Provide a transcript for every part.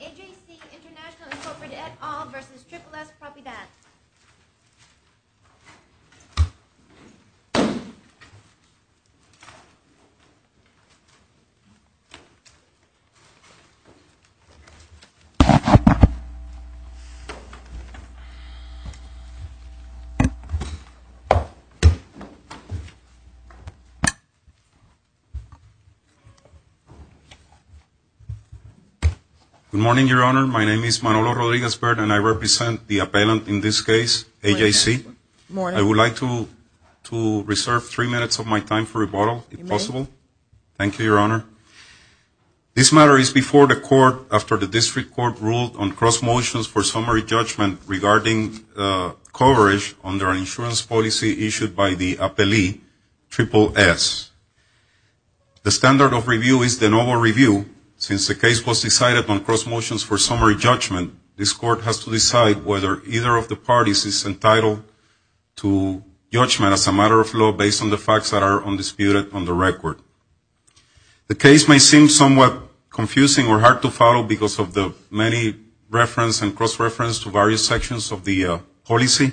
AJC International Incorporated et al. v. Triple-S Propiedad Good morning, Your Honor. My name is Manolo Rodriguez-Baird and I represent the appellant in this case, AJC. I would like to reserve three minutes of my time for rebuttal, if possible. Thank you, Your Honor. This matter is before the Court after the District Court ruled on cross motions for summary judgment regarding coverage under an insurance policy issued by the appellee, Triple-S. The standard of review is the noble review. Since the case was decided on cross motions for summary judgment, this Court has to decide whether either of the parties is entitled to judgment as a matter of law based on the facts that are undisputed on the record. The case may seem somewhat confusing or hard to follow because of the many reference and cross-reference to various sections of the policy.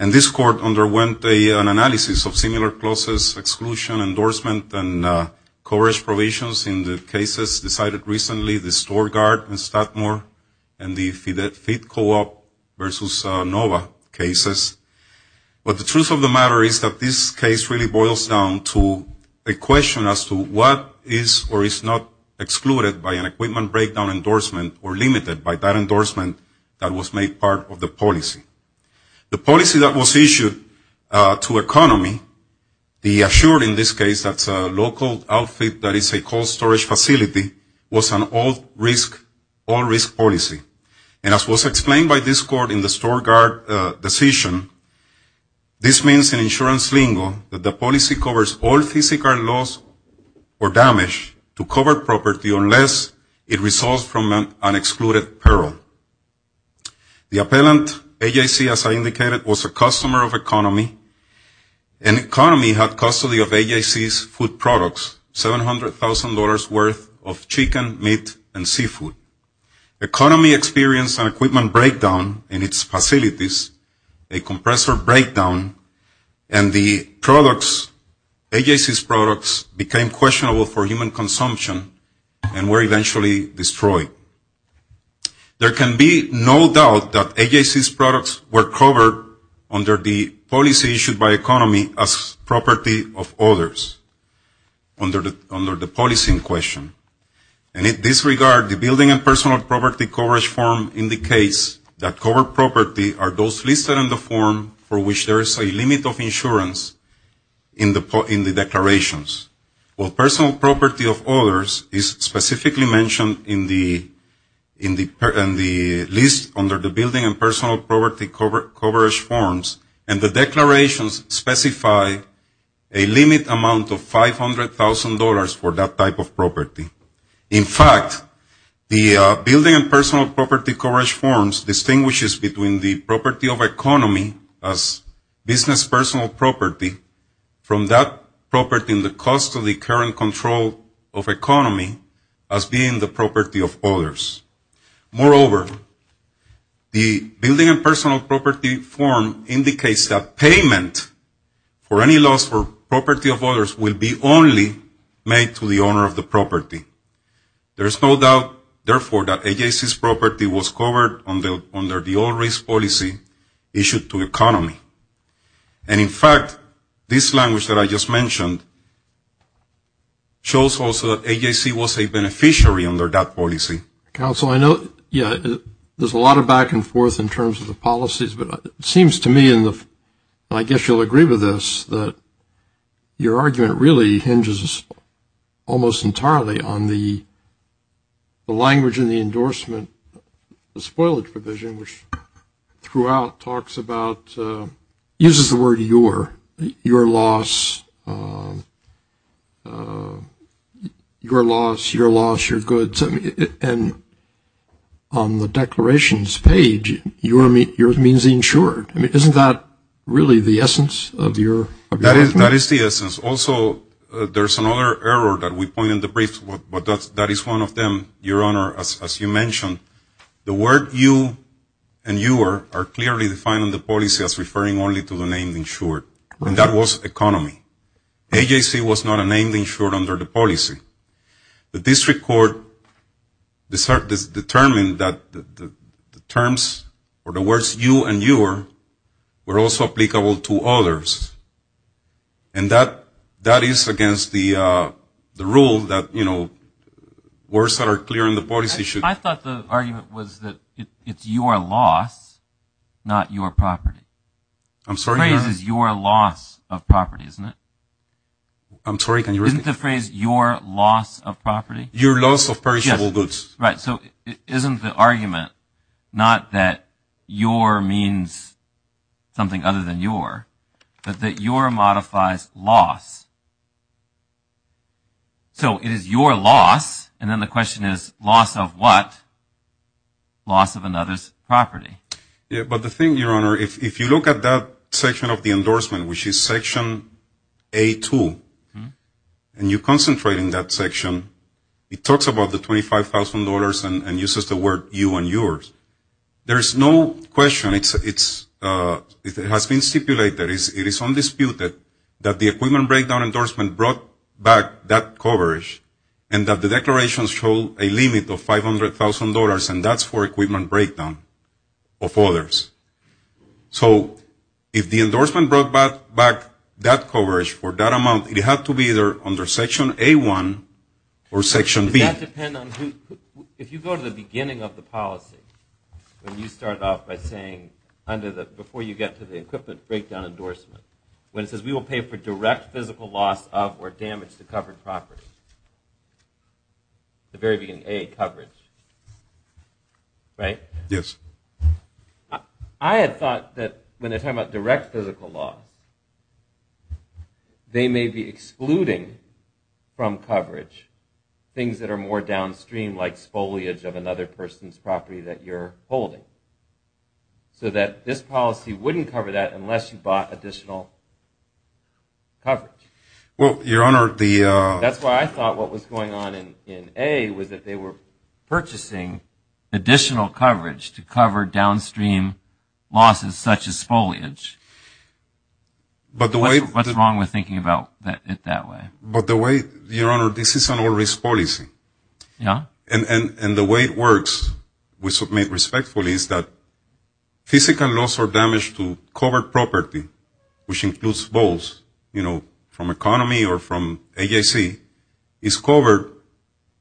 And this Court underwent an analysis of similar clauses, exclusion, endorsement, and coverage provisions in the cases decided recently, the StoreGuard and Statmore, and the Fit Co-op v. Nova cases. But the truth of the matter is that this case really boils down to a question as to what is or is not excluded by an equipment breakdown endorsement or limited by that endorsement that was made part of the policy. The policy that was issued to economy, the assured in this case, that's a local outfit that is a cold storage facility, was an all-risk policy. And as was explained by this Court in the StoreGuard decision, this means in insurance lingo that the policy covers all physical loss or damage to covered property unless it results from an excluded peril. The appellant, AJC, as I indicated, was a customer of economy, and economy had custody of AJC's food products, $700,000 worth of chicken, meat, and seafood. And AJC experienced an equipment breakdown in its facilities, a compressor breakdown, and the products, AJC's products became questionable for human consumption and were eventually destroyed. There can be no doubt that AJC's products were covered under the policy issued by economy as property of others, under the policy in question. And in this regard, the building and personal property coverage form indicates that covered property are those listed in the form for which there is a limit of insurance in the declarations. While personal property of others is specifically mentioned in the list under the building and personal property coverage forms, and the declarations specify a limit amount of $500,000 for that type of property. In fact, the building and personal property coverage forms distinguishes between the property of economy as business personal property from that property in the cost of the current control of economy as being the property of others. Moreover, the building and personal property form indicates that payment for any loss for property of others will be only made to the owner of the property. There is no doubt, therefore, that AJC's property was covered under the old risk policy issued to economy. And in fact, this language that I just mentioned shows also that AJC was a beneficiary under that policy. Council, I know, yeah, there's a lot of back and forth in terms of the policies, but it seems to me, and I guess you'll agree with this, that your argument really hinges almost entirely on the language in the endorsement, the spoilage provision, which throughout talks about, uses the word your, your loss, your loss, your loss, your goods. And on the declarations page, yours means insured. I mean, isn't that really the essence of your argument? That is the essence. Also, there's another error that we point in the brief, but that is one of them, Your Honor, as you mentioned. The word you and your are clearly defined in the policy as referring only to the name insured, and that was economy. AJC was not a name insured under the policy. The district court determined that the terms for the words you and your were also applicable to others. And that is against the rule that, you know, words that are clear in the policy should. I thought the argument was that it's your loss, not your property. The phrase is your loss of property, isn't it? I'm sorry, can you repeat? Isn't the phrase your loss of property? Your loss of perishable goods. Right, so isn't the argument not that your means something other than your, but that your modifies loss. So it is your loss, and then the question is loss of what? Loss of another's property. But the thing, Your Honor, if you look at that section of the endorsement, which is section A2, and you concentrate in that section, it talks about the $25,000 and uses the word you and yours. There's no question, it has been stipulated, it is undisputed that the equipment breakdown endorsement brought back that coverage, and that the declarations show a limit of $500,000, and that's for equipment breakdown of others. So if the endorsement brought back that coverage for that amount, it had to be either under section A1 or section B. Does that depend on who, if you go to the beginning of the policy, when you start off by saying, under the, before you get to the equipment breakdown endorsement, when it says we will pay for direct physical loss of or damage to covered property, the very beginning, A, coverage, right? Yes. I had thought that when they're talking about direct physical loss, they may be excluding from coverage things that are more downstream, like foliage of another person's property that you're holding. So that this policy wouldn't cover that unless you bought additional coverage. Well, Your Honor, the... That's why I thought what was going on in A was that they were purchasing additional coverage to cover downstream losses such as foliage. But the way... What's wrong with thinking about it that way? But the way, Your Honor, this is an old risk policy. Yeah? And the way it works, we submit respectfully, is that physical loss or damage to covered property, which includes both, you know, from economy or from AJC, is covered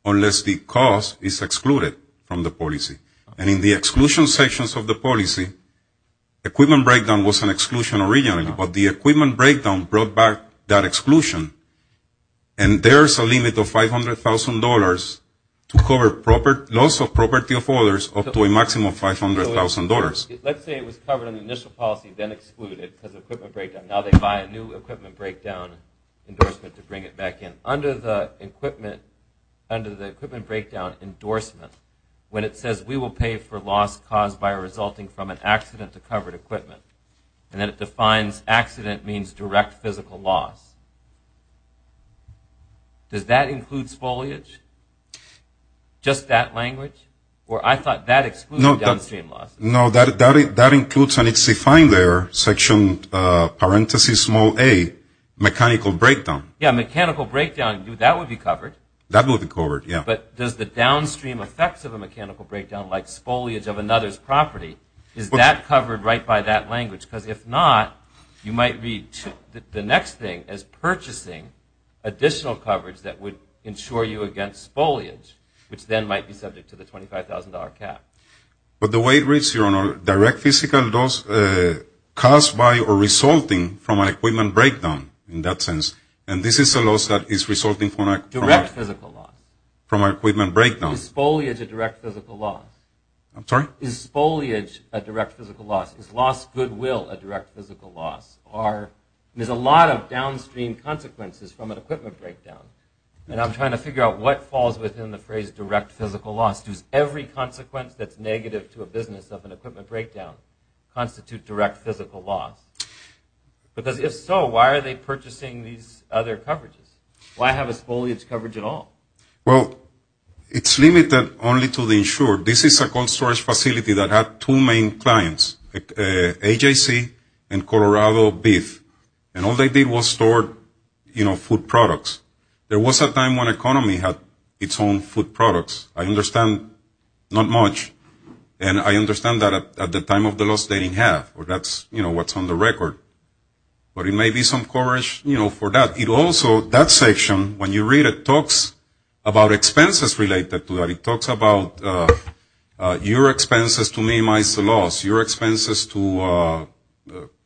unless the cost is excluded from the policy. And in the exclusion sections of the policy, equipment breakdown was an exclusion originally, but the equipment breakdown brought back that exclusion. And there's a limit of $500,000 to cover loss of property of others up to a maximum of $500,000. Let's say it was covered in the initial policy, then excluded because of equipment breakdown. Now they buy a new equipment breakdown endorsement to bring it back in. Under the equipment breakdown endorsement, when it says, we will pay for loss caused by resulting from an accident to covered equipment, and then it defines accident means direct physical loss. Does that include foliage? Just that language? Or I thought that excluded downstream losses. No, that includes, and it's defined there, section, parenthesis, small a, mechanical breakdown. Yeah, mechanical breakdown, that would be covered. That would be covered, yeah. But does the downstream effects of a mechanical breakdown, like foliage of another's property, is that covered right by that language? Because if not, you might read the next thing as purchasing additional coverage that would ensure you against foliage, which then might be subject to the $25,000 cap. But the way it reads, Your Honor, direct physical loss caused by or resulting from an equipment breakdown in that sense, and this is a loss that is resulting from a direct physical loss, from equipment breakdown. Is foliage a direct physical loss? I'm sorry? Is foliage a direct physical loss? Is loss goodwill a direct physical loss? There's a lot of downstream consequences from an equipment breakdown, and I'm trying to figure out what falls within the phrase direct physical loss. Does every consequence that's negative to a business of an equipment breakdown constitute direct physical loss? Because if so, why are they purchasing these other coverages? Why have a foliage coverage at all? Well, it's limited only to the insured. This is a cold storage facility that had two main clients, AJC and Colorado Beef, and all they did was store food products. There was a time when economy had its own food products. I understand not much, and I understand that at the time of the loss they didn't have, or that's what's on the record. But it may be some coverage for that. It also, that section, when you read it, talks about expenses related to that. It talks about your expenses to minimize the loss, your expenses to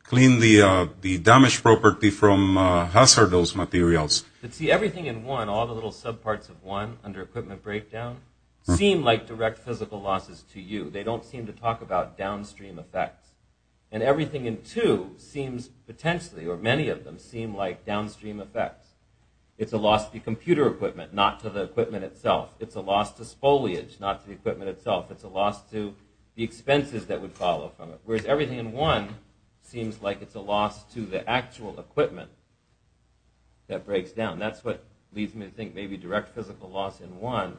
clean the damaged property from hazardous materials. But see, everything in one, all the little subparts of one under equipment breakdown, seem like direct physical losses to you. They don't seem to talk about downstream effects. And everything in two seems potentially, or many of them, seem like downstream effects. It's a loss to the computer equipment, not to the equipment itself. It's a loss to spoliage, not to the equipment itself. It's a loss to the expenses that would follow from it. Whereas everything in one seems like it's a loss to the actual equipment that breaks down. That's what leads me to think maybe direct physical loss in one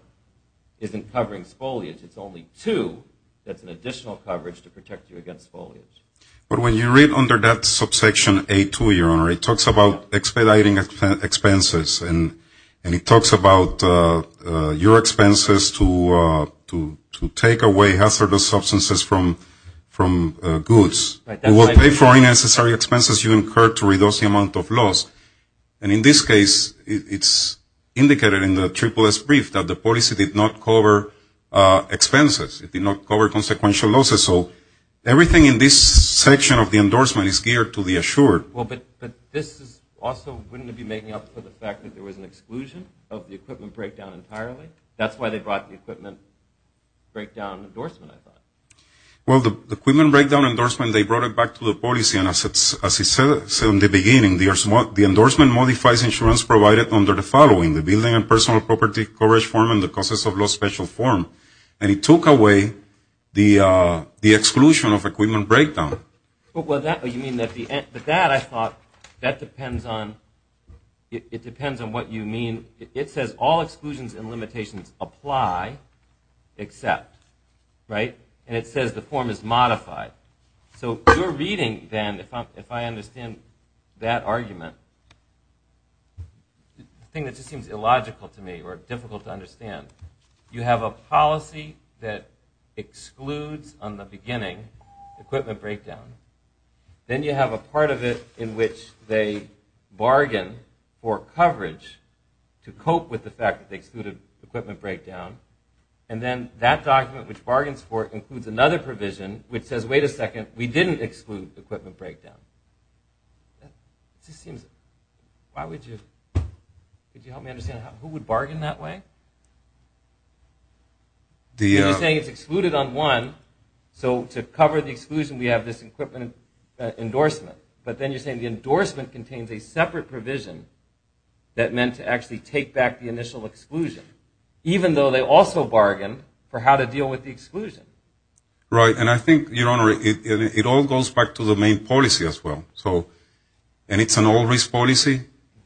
isn't covering spoliage. It's only two that's an additional coverage to protect you against spoliage. But when you read under that subsection A2, Your Honor, it talks about expediting expenses, and it talks about your expenses to take away hazardous substances from goods. It will pay for unnecessary expenses you incur to reduce the amount of loss. And in this case, it's indicated in the SSS brief that the policy did not cover expenses. It did not cover consequential losses. So everything in this section of the endorsement is geared to the assured. But this is also, wouldn't it be making up for the fact that there was an exclusion of the equipment breakdown entirely? That's why they brought the equipment breakdown endorsement, I thought. Well, the equipment breakdown endorsement, they brought it back to the policy. And as I said in the beginning, the endorsement modifies insurance provided under the following, the building and personal property coverage form and the causes of loss special form. And it took away the exclusion of equipment breakdown. Well, you mean that the end, but that I thought, that depends on, it depends on what you mean. It says all exclusions and limitations apply except, right? And it says the form is modified. So you're reading then, if I understand that argument, the thing that just seems illogical to me or difficult to understand, you have a policy that excludes on the beginning equipment breakdown. Then you have a part of it in which they bargain for coverage to cope with the fact that they excluded equipment breakdown. And then that document which bargains for it includes another provision, which says, wait a second, we didn't exclude equipment breakdown. It just seems, why would you, could you help me understand, who would bargain that way? You're saying it's excluded on one, so to cover the exclusion we have this equipment endorsement. But then you're saying the endorsement contains a separate provision that meant to actually take back the initial exclusion, even though they also bargained for how to deal with the exclusion. Right. And I think, Your Honor, it all goes back to the main policy as well. So, and it's an all risk policy.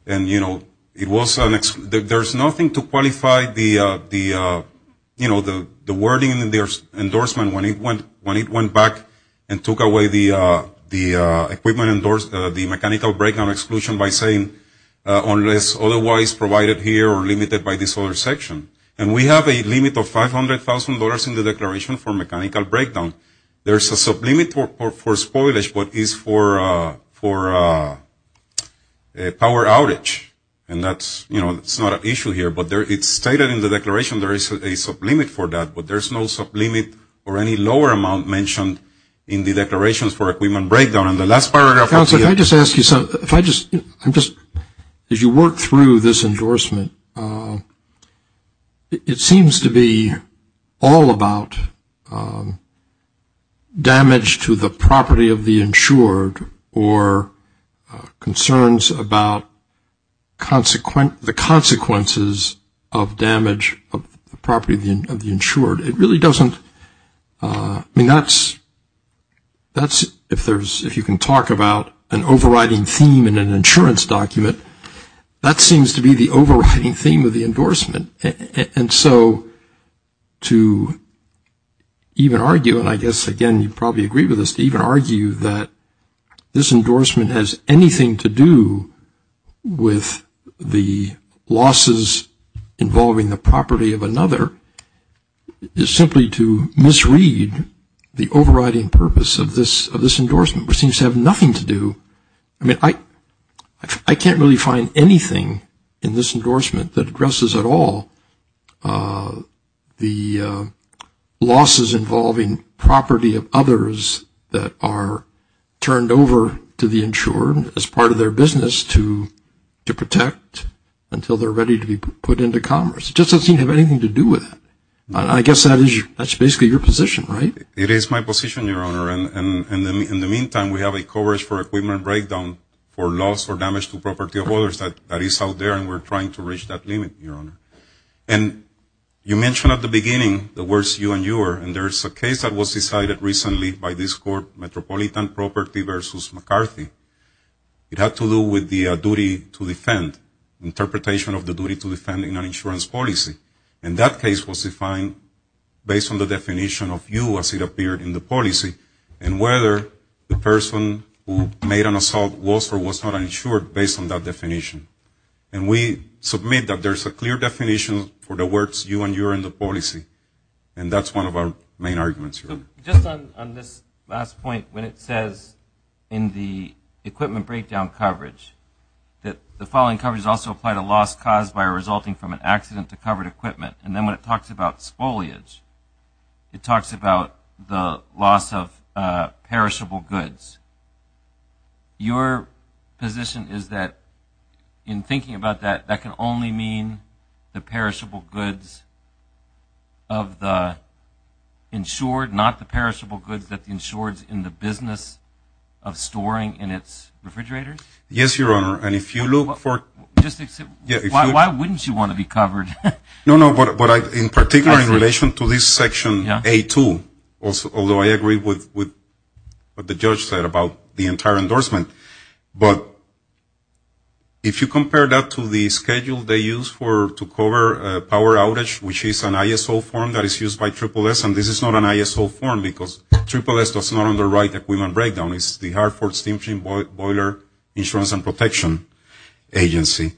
And, you know, it was, there's nothing to qualify the, you know, the wording in the endorsement when it went back and took away the equipment, the mechanical breakdown exclusion by saying, unless otherwise provided here or limited by this other section. And we have a limit of $500,000 in the declaration for mechanical breakdown. There's a sublimit for spoilage, but it's for a power outage. And that's, you know, it's not an issue here. But it's stated in the declaration there is a sublimit for that. But there's no sublimit or any lower amount mentioned in the declarations for equipment breakdown. And the last paragraph. If I just, I'm just, as you work through this endorsement, it seems to be all about damage to the property of the insured or concerns about the consequences of damage of the property of the insured. It really doesn't, I mean, that's, if there's, if you can talk about an overriding theme in an insurance document, that seems to be the overriding theme of the endorsement. And so to even argue, and I guess, again, you'd probably agree with this, to even argue that this endorsement has anything to do with the losses involving the property of another, is simply to misread the overriding purpose of this endorsement, which seems to have nothing to do, I mean, I can't really find anything in this endorsement that addresses at all the losses involving property of others that are turned over to the insured as part of their business to protect until they're ready to be put into commerce. It just doesn't seem to have anything to do with that. I guess that's basically your position, right? It is my position, Your Honor. And in the meantime, we have a coverage for equipment breakdown for loss or damage to property of others that is out there, and we're trying to reach that limit, Your Honor. And you mentioned at the beginning the words you and your, and there's a case that was decided recently by this court, Metropolitan Property v. McCarthy. It had to do with the duty to defend, interpretation of the duty to defend in an insurance policy. And that case was defined based on the definition of you as it appeared in the policy, and whether the person who made an assault was or was not an insured based on that definition. And we submit that there's a clear definition for the words you and your in the policy, and that's one of our main arguments here. Just on this last point, when it says in the equipment breakdown coverage that the following coverage is also applied to loss caused by resulting from an accident to covered equipment, and then when it talks about spoliage, it talks about the loss of perishable goods. Your position is that in thinking about that, that can only mean the perishable goods of the insured, not the perishable goods that the insured's in the business of storing in its refrigerator? Yes, Your Honor, and if you look for... Why wouldn't you want to be covered? No, no, but in particular in relation to this section A2, although I agree with what the judge said about the entire endorsement, but if you compare that to the schedule they use to cover a power outage, which is an ISO form that is used by SSS, and this is not an ISO form because SSS does not underwrite equipment breakdown. It's the Hartford Steamship Boiler Insurance and Protection Agency.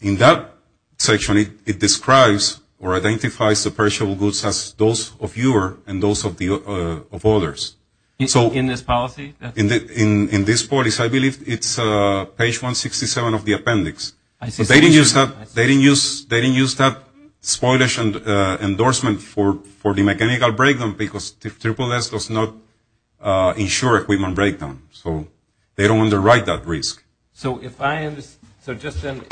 In that section, it describes or identifies the perishable goods as those of yours and those of others. In this policy? In this policy, I believe it's page 167 of the appendix. I see. But they didn't use that spoliage endorsement for the mechanical breakdown because SSS does not insure equipment breakdown, so they don't underwrite that risk. So if I understand, so just then,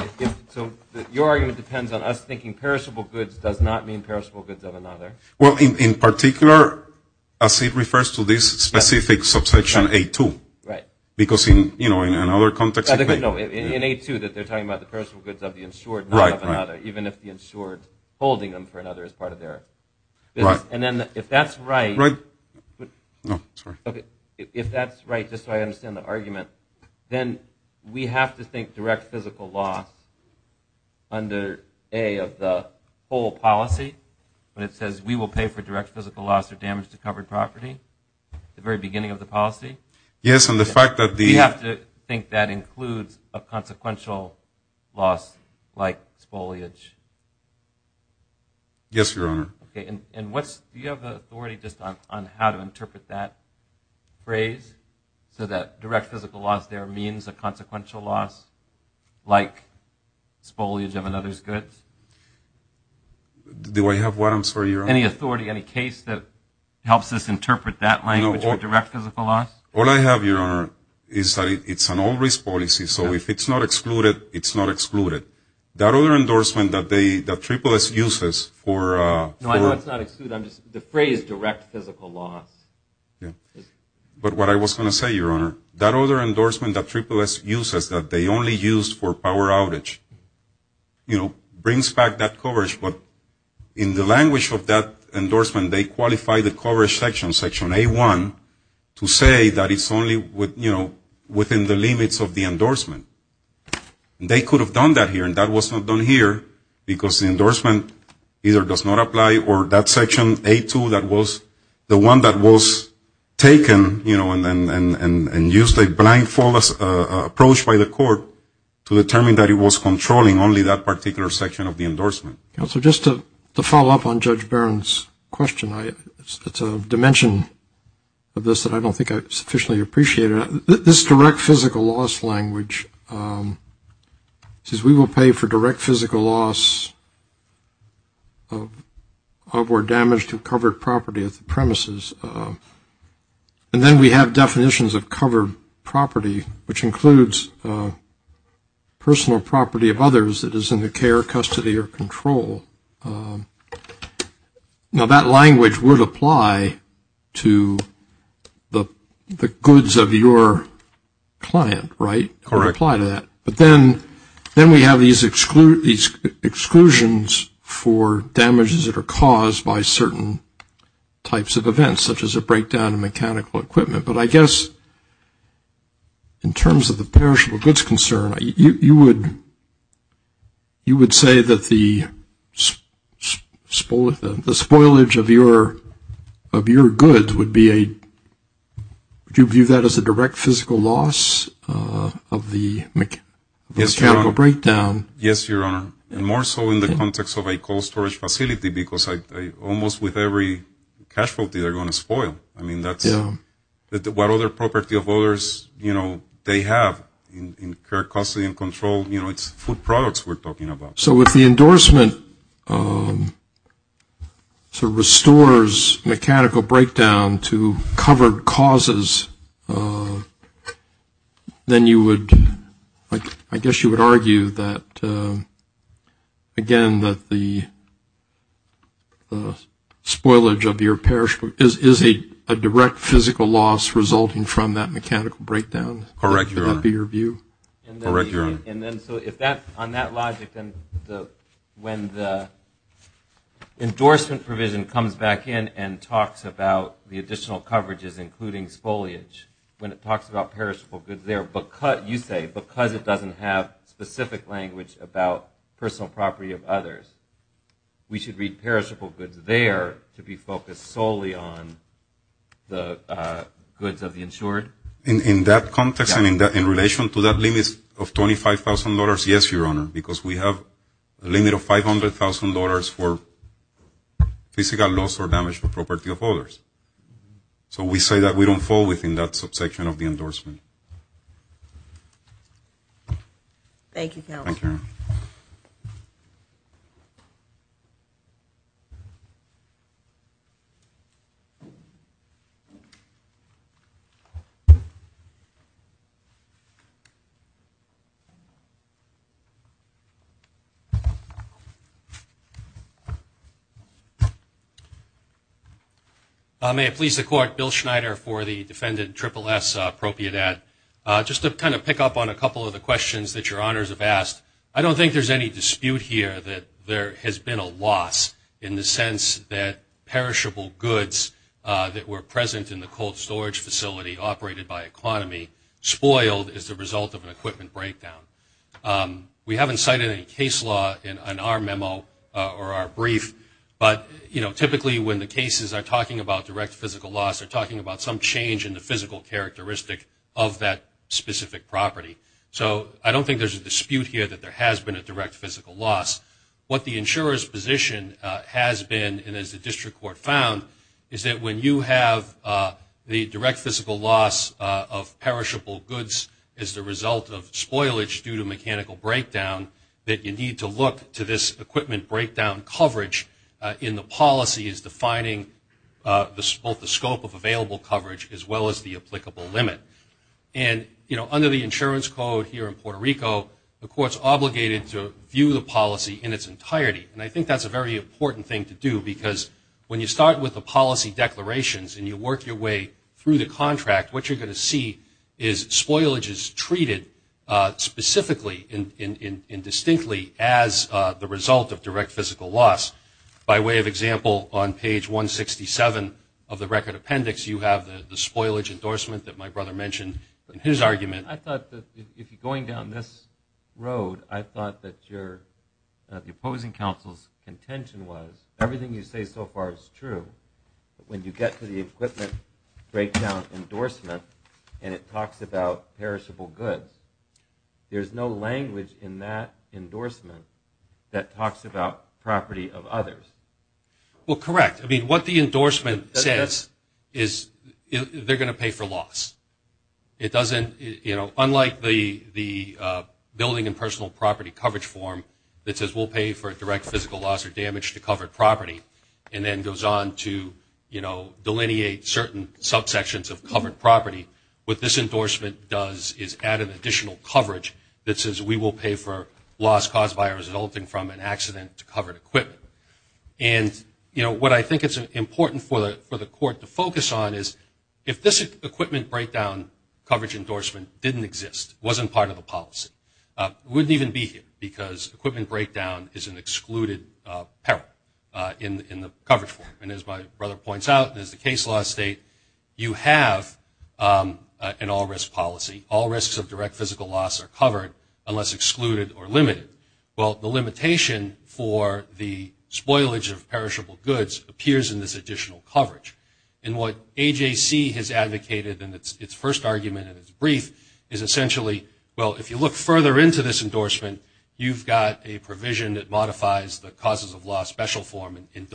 so your argument depends on us thinking perishable goods does not mean perishable goods of another? Well, in particular, as it refers to this specific subsection A2. Right. Because, you know, in another context... No, in A2, they're talking about the perishable goods of the insured, not of another, even if the insured is holding them for another as part of their business. Right. And then if that's right... No, sorry. If that's right, just so I understand the argument, then we have to think direct physical loss under A of the whole policy when it says we will pay for direct physical loss or damage to covered property at the very beginning of the policy? Yes, and the fact that the... You have to think that includes a consequential loss like spoliage? Yes, Your Honor. Okay, and do you have the authority just on how to interpret that phrase so that direct physical loss there means a consequential loss like spoliage of another's goods? Do I have what, I'm sorry, Your Honor? Any authority, any case that helps us interpret that language for direct physical loss? All I have, Your Honor, is that it's an all-risk policy, so if it's not excluded, it's not excluded. That other endorsement that they, that Triple S uses for... No, I know it's not excluded. I'm just, the phrase direct physical loss is... But what I was going to say, Your Honor, that other endorsement that Triple S uses that they only use for power outage, you know, brings back that coverage, but in the language of that endorsement, they qualify the coverage section, section A1, to say that it's only, you know, within the limits of the endorsement. They could have done that here, and that was not done here, because the endorsement either does not apply or that section, A2, that was the one that was taken, you know, and used a blindfolded approach by the court to determine that it was controlling only that particular section of the endorsement. Counselor, just to follow up on Judge Barron's question, it's a dimension of this that I don't think I sufficiently appreciate. This direct physical loss language says we will pay for direct physical loss of or damage to covered property at the premises, and then we have definitions of covered property, which includes personal property of others that is in the care, custody, or control. Now, that language would apply to the goods of your client, right? Correct. It would apply to that, but then we have these exclusions for damages that are caused by certain types of events, such as a breakdown of mechanical equipment, but I guess in terms of the perishable goods concern, you would say that the spoilage of your goods would be a, would you view that as a direct physical loss of the mechanical breakdown? Yes, Your Honor, and more so in the context of a cold storage facility, because almost with every cash vault they're going to spoil. I mean, that's what other property of others, you know, they have in care, custody, and control. You know, it's food products we're talking about. So if the endorsement sort of restores mechanical breakdown to covered causes, then you would, I guess you would argue that, again, that the spoilage of your perishable is a direct physical loss resulting from that mechanical breakdown? Correct, Your Honor. Would that be your view? Correct, Your Honor. And then so if that, on that logic, then when the endorsement provision comes back in and talks about the additional coverages including spoilage, when it talks about perishable goods there, you say because it doesn't have specific language about personal property of others, we should read perishable goods there to be focused solely on the goods of the insured? In that context and in relation to that limit of $25,000, yes, Your Honor, because we have a limit of $500,000 for physical loss or damage to property of others. So we say that we don't fall within that subsection of the endorsement. Thank you, counsel. Thank you, Your Honor. Bill Schneider for the defendant, SSSS, appropriate at. Just to kind of pick up on a couple of the questions that Your Honors have asked, I don't think there's any dispute here that there has been a loss in the sense that perishable goods that were present in the cold storage facility operated by economy spoiled as a result of an equipment breakdown. We haven't cited any case law in our memo or our brief, but, you know, we're talking about some change in the physical characteristic of that specific property. So I don't think there's a dispute here that there has been a direct physical loss. What the insurer's position has been, and as the district court found, is that when you have the direct physical loss of perishable goods as the result of spoilage due to mechanical breakdown, that you need to look to this equipment breakdown coverage in the policy as well as the applicable limit. And, you know, under the insurance code here in Puerto Rico, the court's obligated to view the policy in its entirety. And I think that's a very important thing to do because when you start with the policy declarations and you work your way through the contract, what you're going to see is spoilage is treated specifically and distinctly as the result of direct physical loss. By way of example, on page 167 of the record appendix, you have the spoilage endorsement that my brother mentioned in his argument. I thought that going down this road, I thought that the opposing counsel's contention was everything you say so far is true. When you get to the equipment breakdown endorsement and it talks about perishable goods, there's no language in that endorsement that talks about property of others. Well, correct. I mean, what the endorsement says is they're going to pay for loss. It doesn't, you know, unlike the building and personal property coverage form that says we'll pay for direct physical loss or damage to covered property, and then goes on to, you know, delineate certain subsections of covered property, what this endorsement does is add an additional coverage that says we will pay for loss caused by or resulting from an accident to covered equipment. And, you know, what I think it's important for the court to focus on is if this equipment breakdown coverage endorsement didn't exist, wasn't part of the policy, it wouldn't even be here because equipment breakdown is an excluded peril in the coverage form. And as my brother points out and as the case law state, you have an all risk policy. All risks of direct physical loss are covered unless excluded or limited. Well, the limitation for the spoilage of perishable goods appears in this additional coverage. And what AJC has advocated in its first argument and its brief is essentially, well, if you look further into this endorsement, you've got a provision that modifies the causes of loss special form and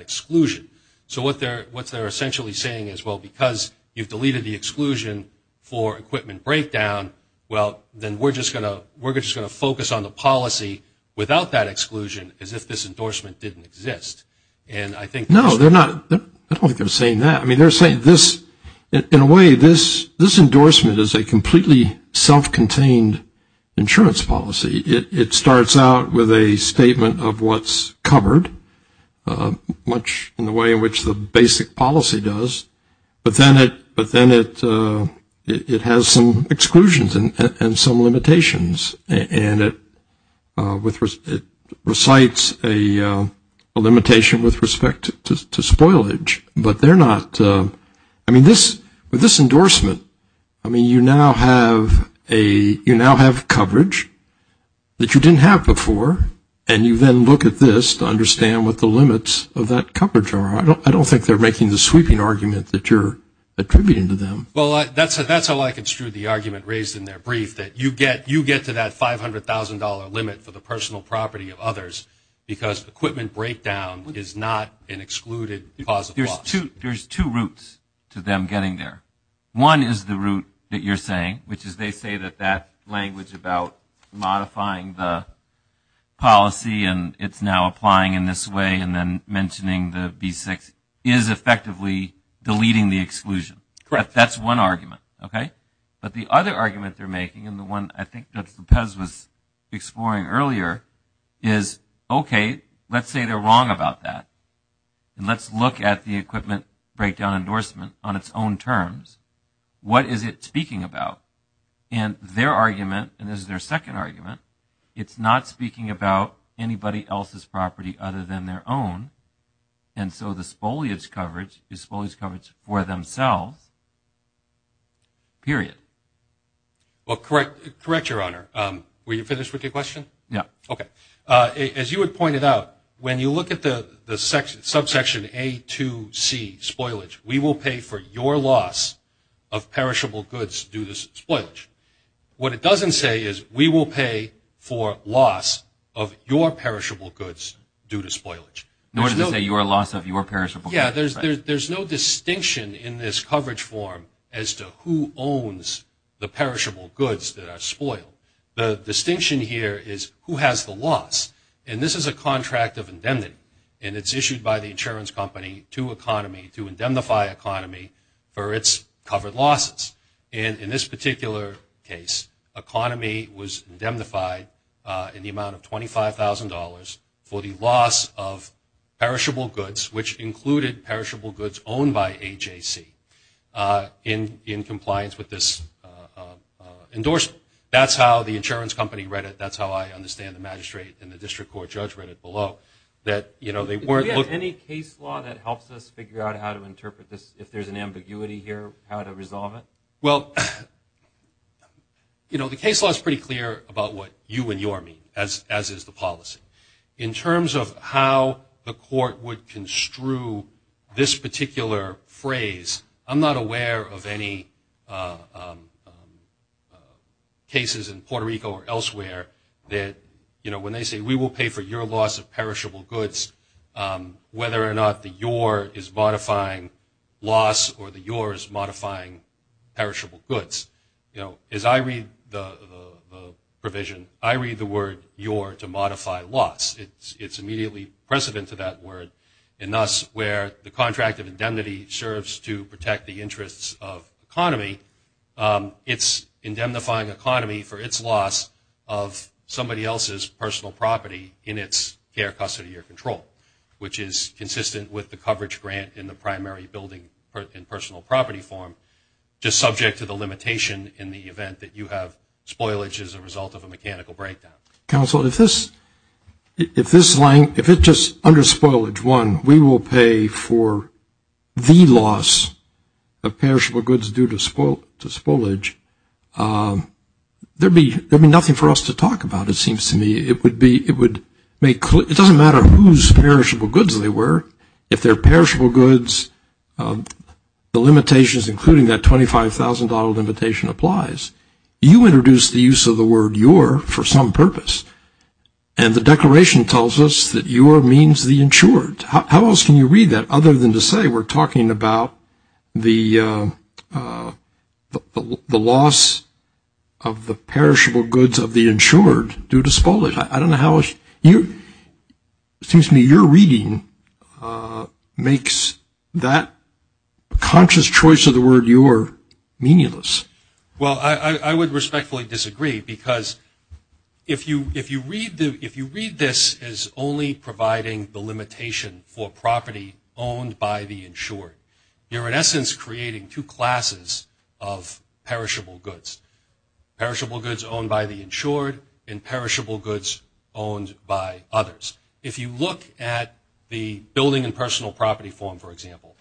exclusion. So what they're essentially saying is, well, because you've deleted the exclusion for equipment breakdown, well, then we're just going to focus on the policy without that exclusion as if this endorsement didn't exist. And I think that's. No, they're not. I don't think they're saying that. I mean, they're saying this, in a way, this endorsement is a completely self-contained insurance policy. It starts out with a statement of what's covered. Much in the way in which the basic policy does. But then it has some exclusions and some limitations. And it recites a limitation with respect to spoilage. But they're not. I mean, with this endorsement, I mean, you now have coverage that you didn't have before. And you then look at this to understand what the limits of that coverage are. I don't think they're making the sweeping argument that you're attributing to them. Well, that's how I construed the argument raised in their brief, that you get to that $500,000 limit for the personal property of others because equipment breakdown is not an excluded cause of loss. There's two routes to them getting there. One is the route that you're saying, which is they say that that language about modifying the policy and it's now applying in this way and then mentioning the B-6 is effectively deleting the exclusion. Correct. That's one argument, okay? But the other argument they're making, and the one I think that Lopez was exploring earlier, is, okay, let's say they're wrong about that. And let's look at the equipment breakdown endorsement on its own terms. What is it speaking about? And their argument, and this is their second argument, it's not speaking about anybody else's property other than their own. And so the spoliage coverage is spoliage coverage for themselves, period. Well, correct, Your Honor. Were you finished with your question? Yeah. Okay. As you had pointed out, when you look at the subsection A2C, spoilage, we will pay for your loss of perishable goods due to spoilage. What it doesn't say is we will pay for loss of your perishable goods due to spoilage. Nor does it say your loss of your perishable goods. Yeah, there's no distinction in this coverage form as to who owns the perishable goods that are spoiled. The distinction here is who has the loss. And this is a contract of indemnity, and it's issued by the insurance company to economy to indemnify economy for its covered losses. And in this particular case, economy was indemnified in the amount of $25,000 for the loss of perishable goods, which included perishable goods owned by AJC, in compliance with this endorsement. That's how the insurance company read it. That's how I understand the magistrate and the district court judge read it below. Do we have any case law that helps us figure out how to interpret this, if there's an ambiguity here, how to resolve it? Well, you know, the case law is pretty clear about what you and your mean, as is the policy. In terms of how the court would construe this particular phrase, I'm not aware of any cases in Puerto Rico or elsewhere that, you know, when they say we will pay for your loss of perishable goods, whether or not the your is modifying loss or the your is modifying perishable goods. You know, as I read the provision, I read the word your to modify loss. It's immediately precedent to that word. And thus, where the contract of indemnity serves to protect the interests of economy, it's indemnifying economy for its loss of somebody else's personal property in its care, custody, or control, which is consistent with the coverage grant in the primary building in personal property form, just subject to the limitation in the event that you have spoilage as a result of a mechanical breakdown. Counsel, if this line, if it's just under spoilage, one, we will pay for the loss of perishable goods due to spoilage, there would be nothing for us to talk about, it seems to me. It doesn't matter whose perishable goods they were. If they're perishable goods, the limitations, including that $25,000 limitation, applies. You introduced the use of the word your for some purpose, and the declaration tells us that your means the insured. How else can you read that other than to say we're talking about the loss of the perishable goods of the insured due to spoilage? I don't know how you, excuse me, your reading makes that conscious choice of the word your meaningless. Well, I would respectfully disagree, because if you read this as only providing the limitation for property owned by the insured, you're in essence creating two classes of perishable goods, perishable goods owned by the insured and perishable goods owned by others. If you look at the building in personal property form, for example,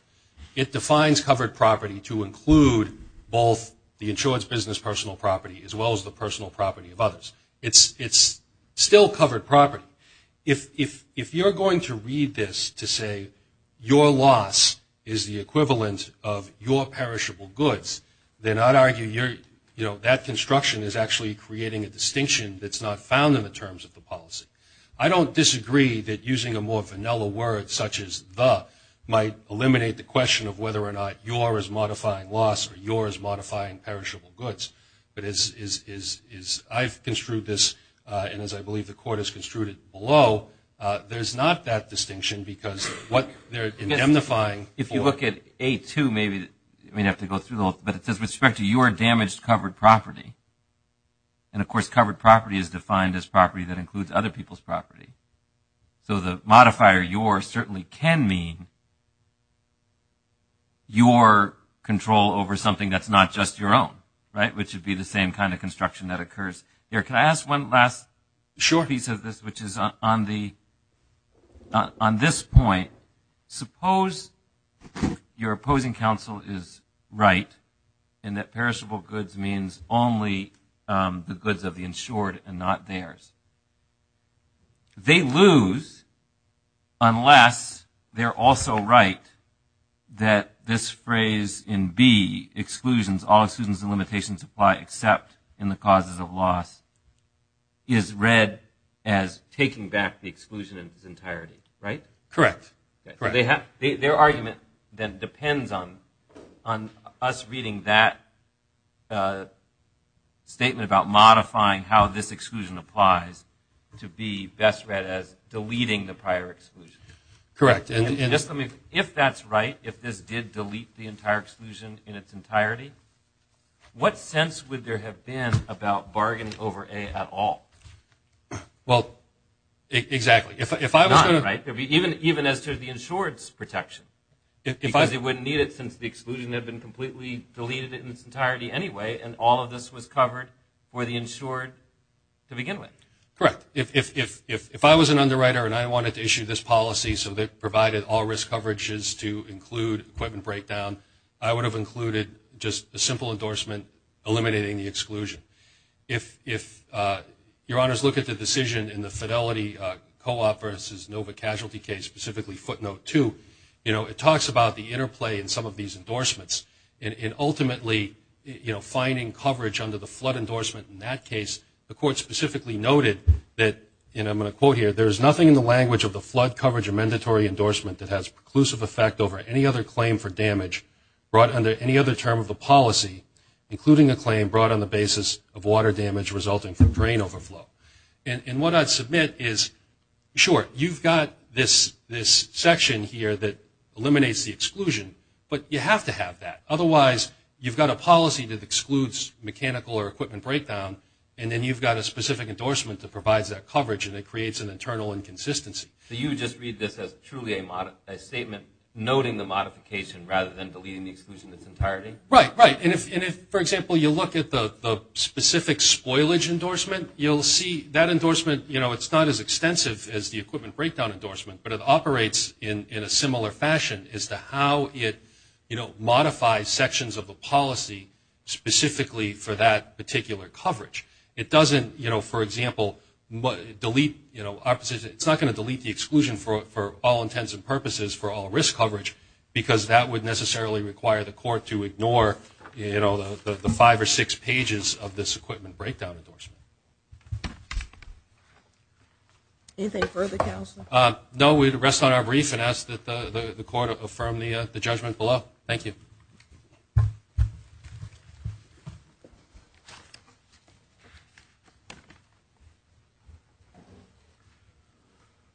it defines covered property to include both the insured's business personal property as well as the personal property of others. It's still covered property. If you're going to read this to say your loss is the equivalent of your perishable goods, then I'd argue that construction is actually creating a distinction that's not found in the terms of the policy. I don't disagree that using a more vanilla word such as the might eliminate the question of whether or not your is modifying loss or your is modifying perishable goods, but as I've construed this, and as I believe the court has construed it below, there's not that distinction because what they're indemnifying for. If you look at A2, maybe we'd have to go through, but it says with respect to your damaged covered property, and of course covered property is defined as property that includes other people's property. So the modifier your certainly can mean your control over something that's not just your own, right, which would be the same kind of construction that occurs here. Can I ask one last piece of this, which is on this point, suppose your opposing counsel is right in that perishable goods means only the goods of the insured and not theirs. They lose unless they're also right that this phrase in B, exclusions, all exclusions and limitations apply except in the causes of loss, is read as taking back the exclusion in its entirety, right? Correct. Their argument then depends on us reading that statement about modifying how this exclusion applies to be best read as deleting the prior exclusion. Correct. If that's right, if this did delete the entire exclusion in its entirety, what sense would there have been about bargaining over A at all? Well, exactly. Even as to the insured's protection, because it wouldn't need it since the exclusion had been completely deleted in its entirety anyway and all of this was covered for the insured to begin with. Correct. If I was an underwriter and I wanted to issue this policy so that it provided all risk coverages to include equipment breakdown, I would have included just a simple endorsement eliminating the exclusion. If your honors look at the decision in the Fidelity Co-op versus Nova Casualty case, specifically footnote two, it talks about the interplay in some of these endorsements. And ultimately, you know, finding coverage under the flood endorsement in that case, the court specifically noted that, and I'm going to quote here, there is nothing in the language of the flood coverage or mandatory endorsement that has preclusive effect over any other claim for damage brought under any other term of the policy, including a claim brought on the basis of water damage resulting from drain overflow. And what I'd submit is, sure, you've got this section here that eliminates the exclusion, but you have to have that. Otherwise, you've got a policy that excludes mechanical or equipment breakdown, and then you've got a specific endorsement that provides that coverage and it creates an internal inconsistency. So you would just read this as truly a statement noting the modification rather than deleting the exclusion in its entirety? Right, right. And if, for example, you look at the specific spoilage endorsement, you'll see that endorsement, you know, it's not as extensive as the equipment breakdown endorsement, but it operates in a similar fashion as to how it, you know, modifies sections of the policy specifically for that particular coverage. It doesn't, you know, for example, delete, you know, it's not going to delete the exclusion for all intents and purposes for all risk coverage because that would necessarily require the court to ignore, you know, the five or six pages of this equipment breakdown endorsement. Anything further, Counselor? No, we'd rest on our brief and ask that the court affirm the judgment below. Thank you.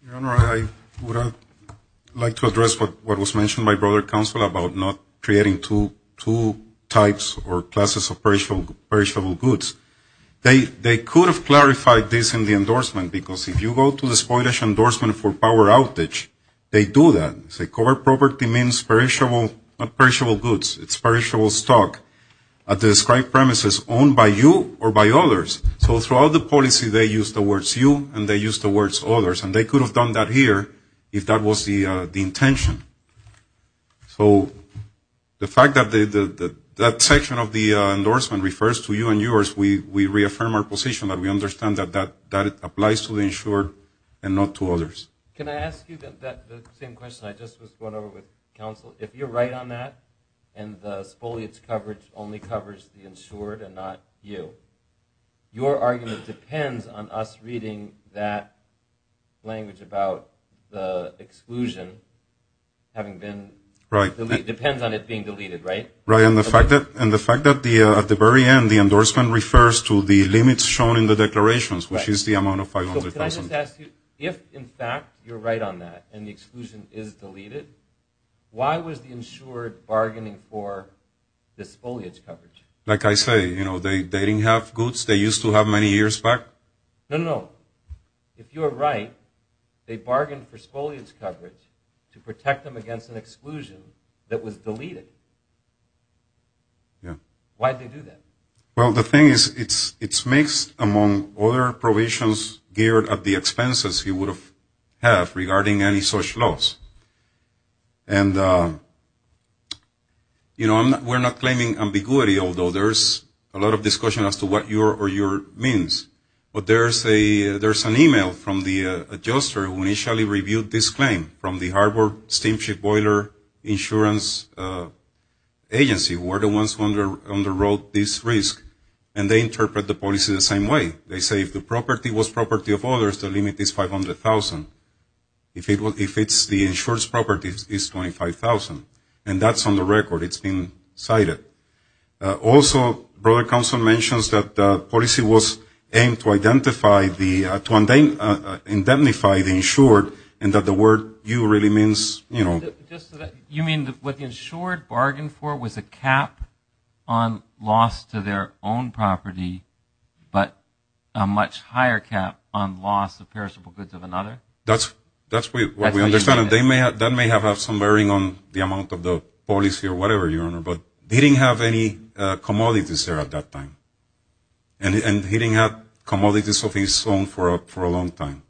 Your Honor, I would like to address what was mentioned by Brother Counselor about not creating two types or classes of perishable goods. They could have clarified this in the endorsement because if you go to the spoilage endorsement for power outage, they do that. They say covered property means perishable goods, it's perishable stock at the described premises owned by you or by others. So throughout the policy they use the words you and they use the words others, and they could have done that here if that was the intention. So the fact that that section of the endorsement refers to you and yours, we reaffirm our position that we understand that that applies to the insured and not to others. Can I ask you the same question I just was going over with Counselor? If you're right on that and the spoilage coverage only covers the insured and not you, your argument depends on us reading that language about the exclusion having been deleted. It depends on it being deleted, right? Right, and the fact that at the very end the endorsement refers to the limits shown in the declarations, which is the amount of $500,000. Can I just ask you, if in fact you're right on that and the exclusion is deleted, why was the insured bargaining for the spoilage coverage? Like I say, they didn't have goods they used to have many years back? No, no, no. If you're right, they bargained for spoilage coverage to protect them against an exclusion that was deleted. Why did they do that? Well, the thing is it's mixed among other provisions geared at the expenses you would have regarding any such loss. And, you know, we're not claiming ambiguity, although there's a lot of discussion as to what your means. But there's an email from the adjuster who initially reviewed this claim from the Harbor Steamship Boiler Insurance Agency. They were the ones who underwrote this risk. And they interpret the policy the same way. They say if the property was property of others, the limit is $500,000. If it's the insurer's property, it's $25,000. And that's on the record. It's been cited. Also, broader counsel mentions that the policy was aimed to identify the insured and that the word you really means, you know. You mean what the insured bargained for was a cap on loss to their own property, but a much higher cap on loss of perishable goods of another? That's what we understand. That may have had some bearing on the amount of the policy or whatever, Your Honor. But he didn't have any commodities there at that time. And he didn't have commodities of his own for a long time.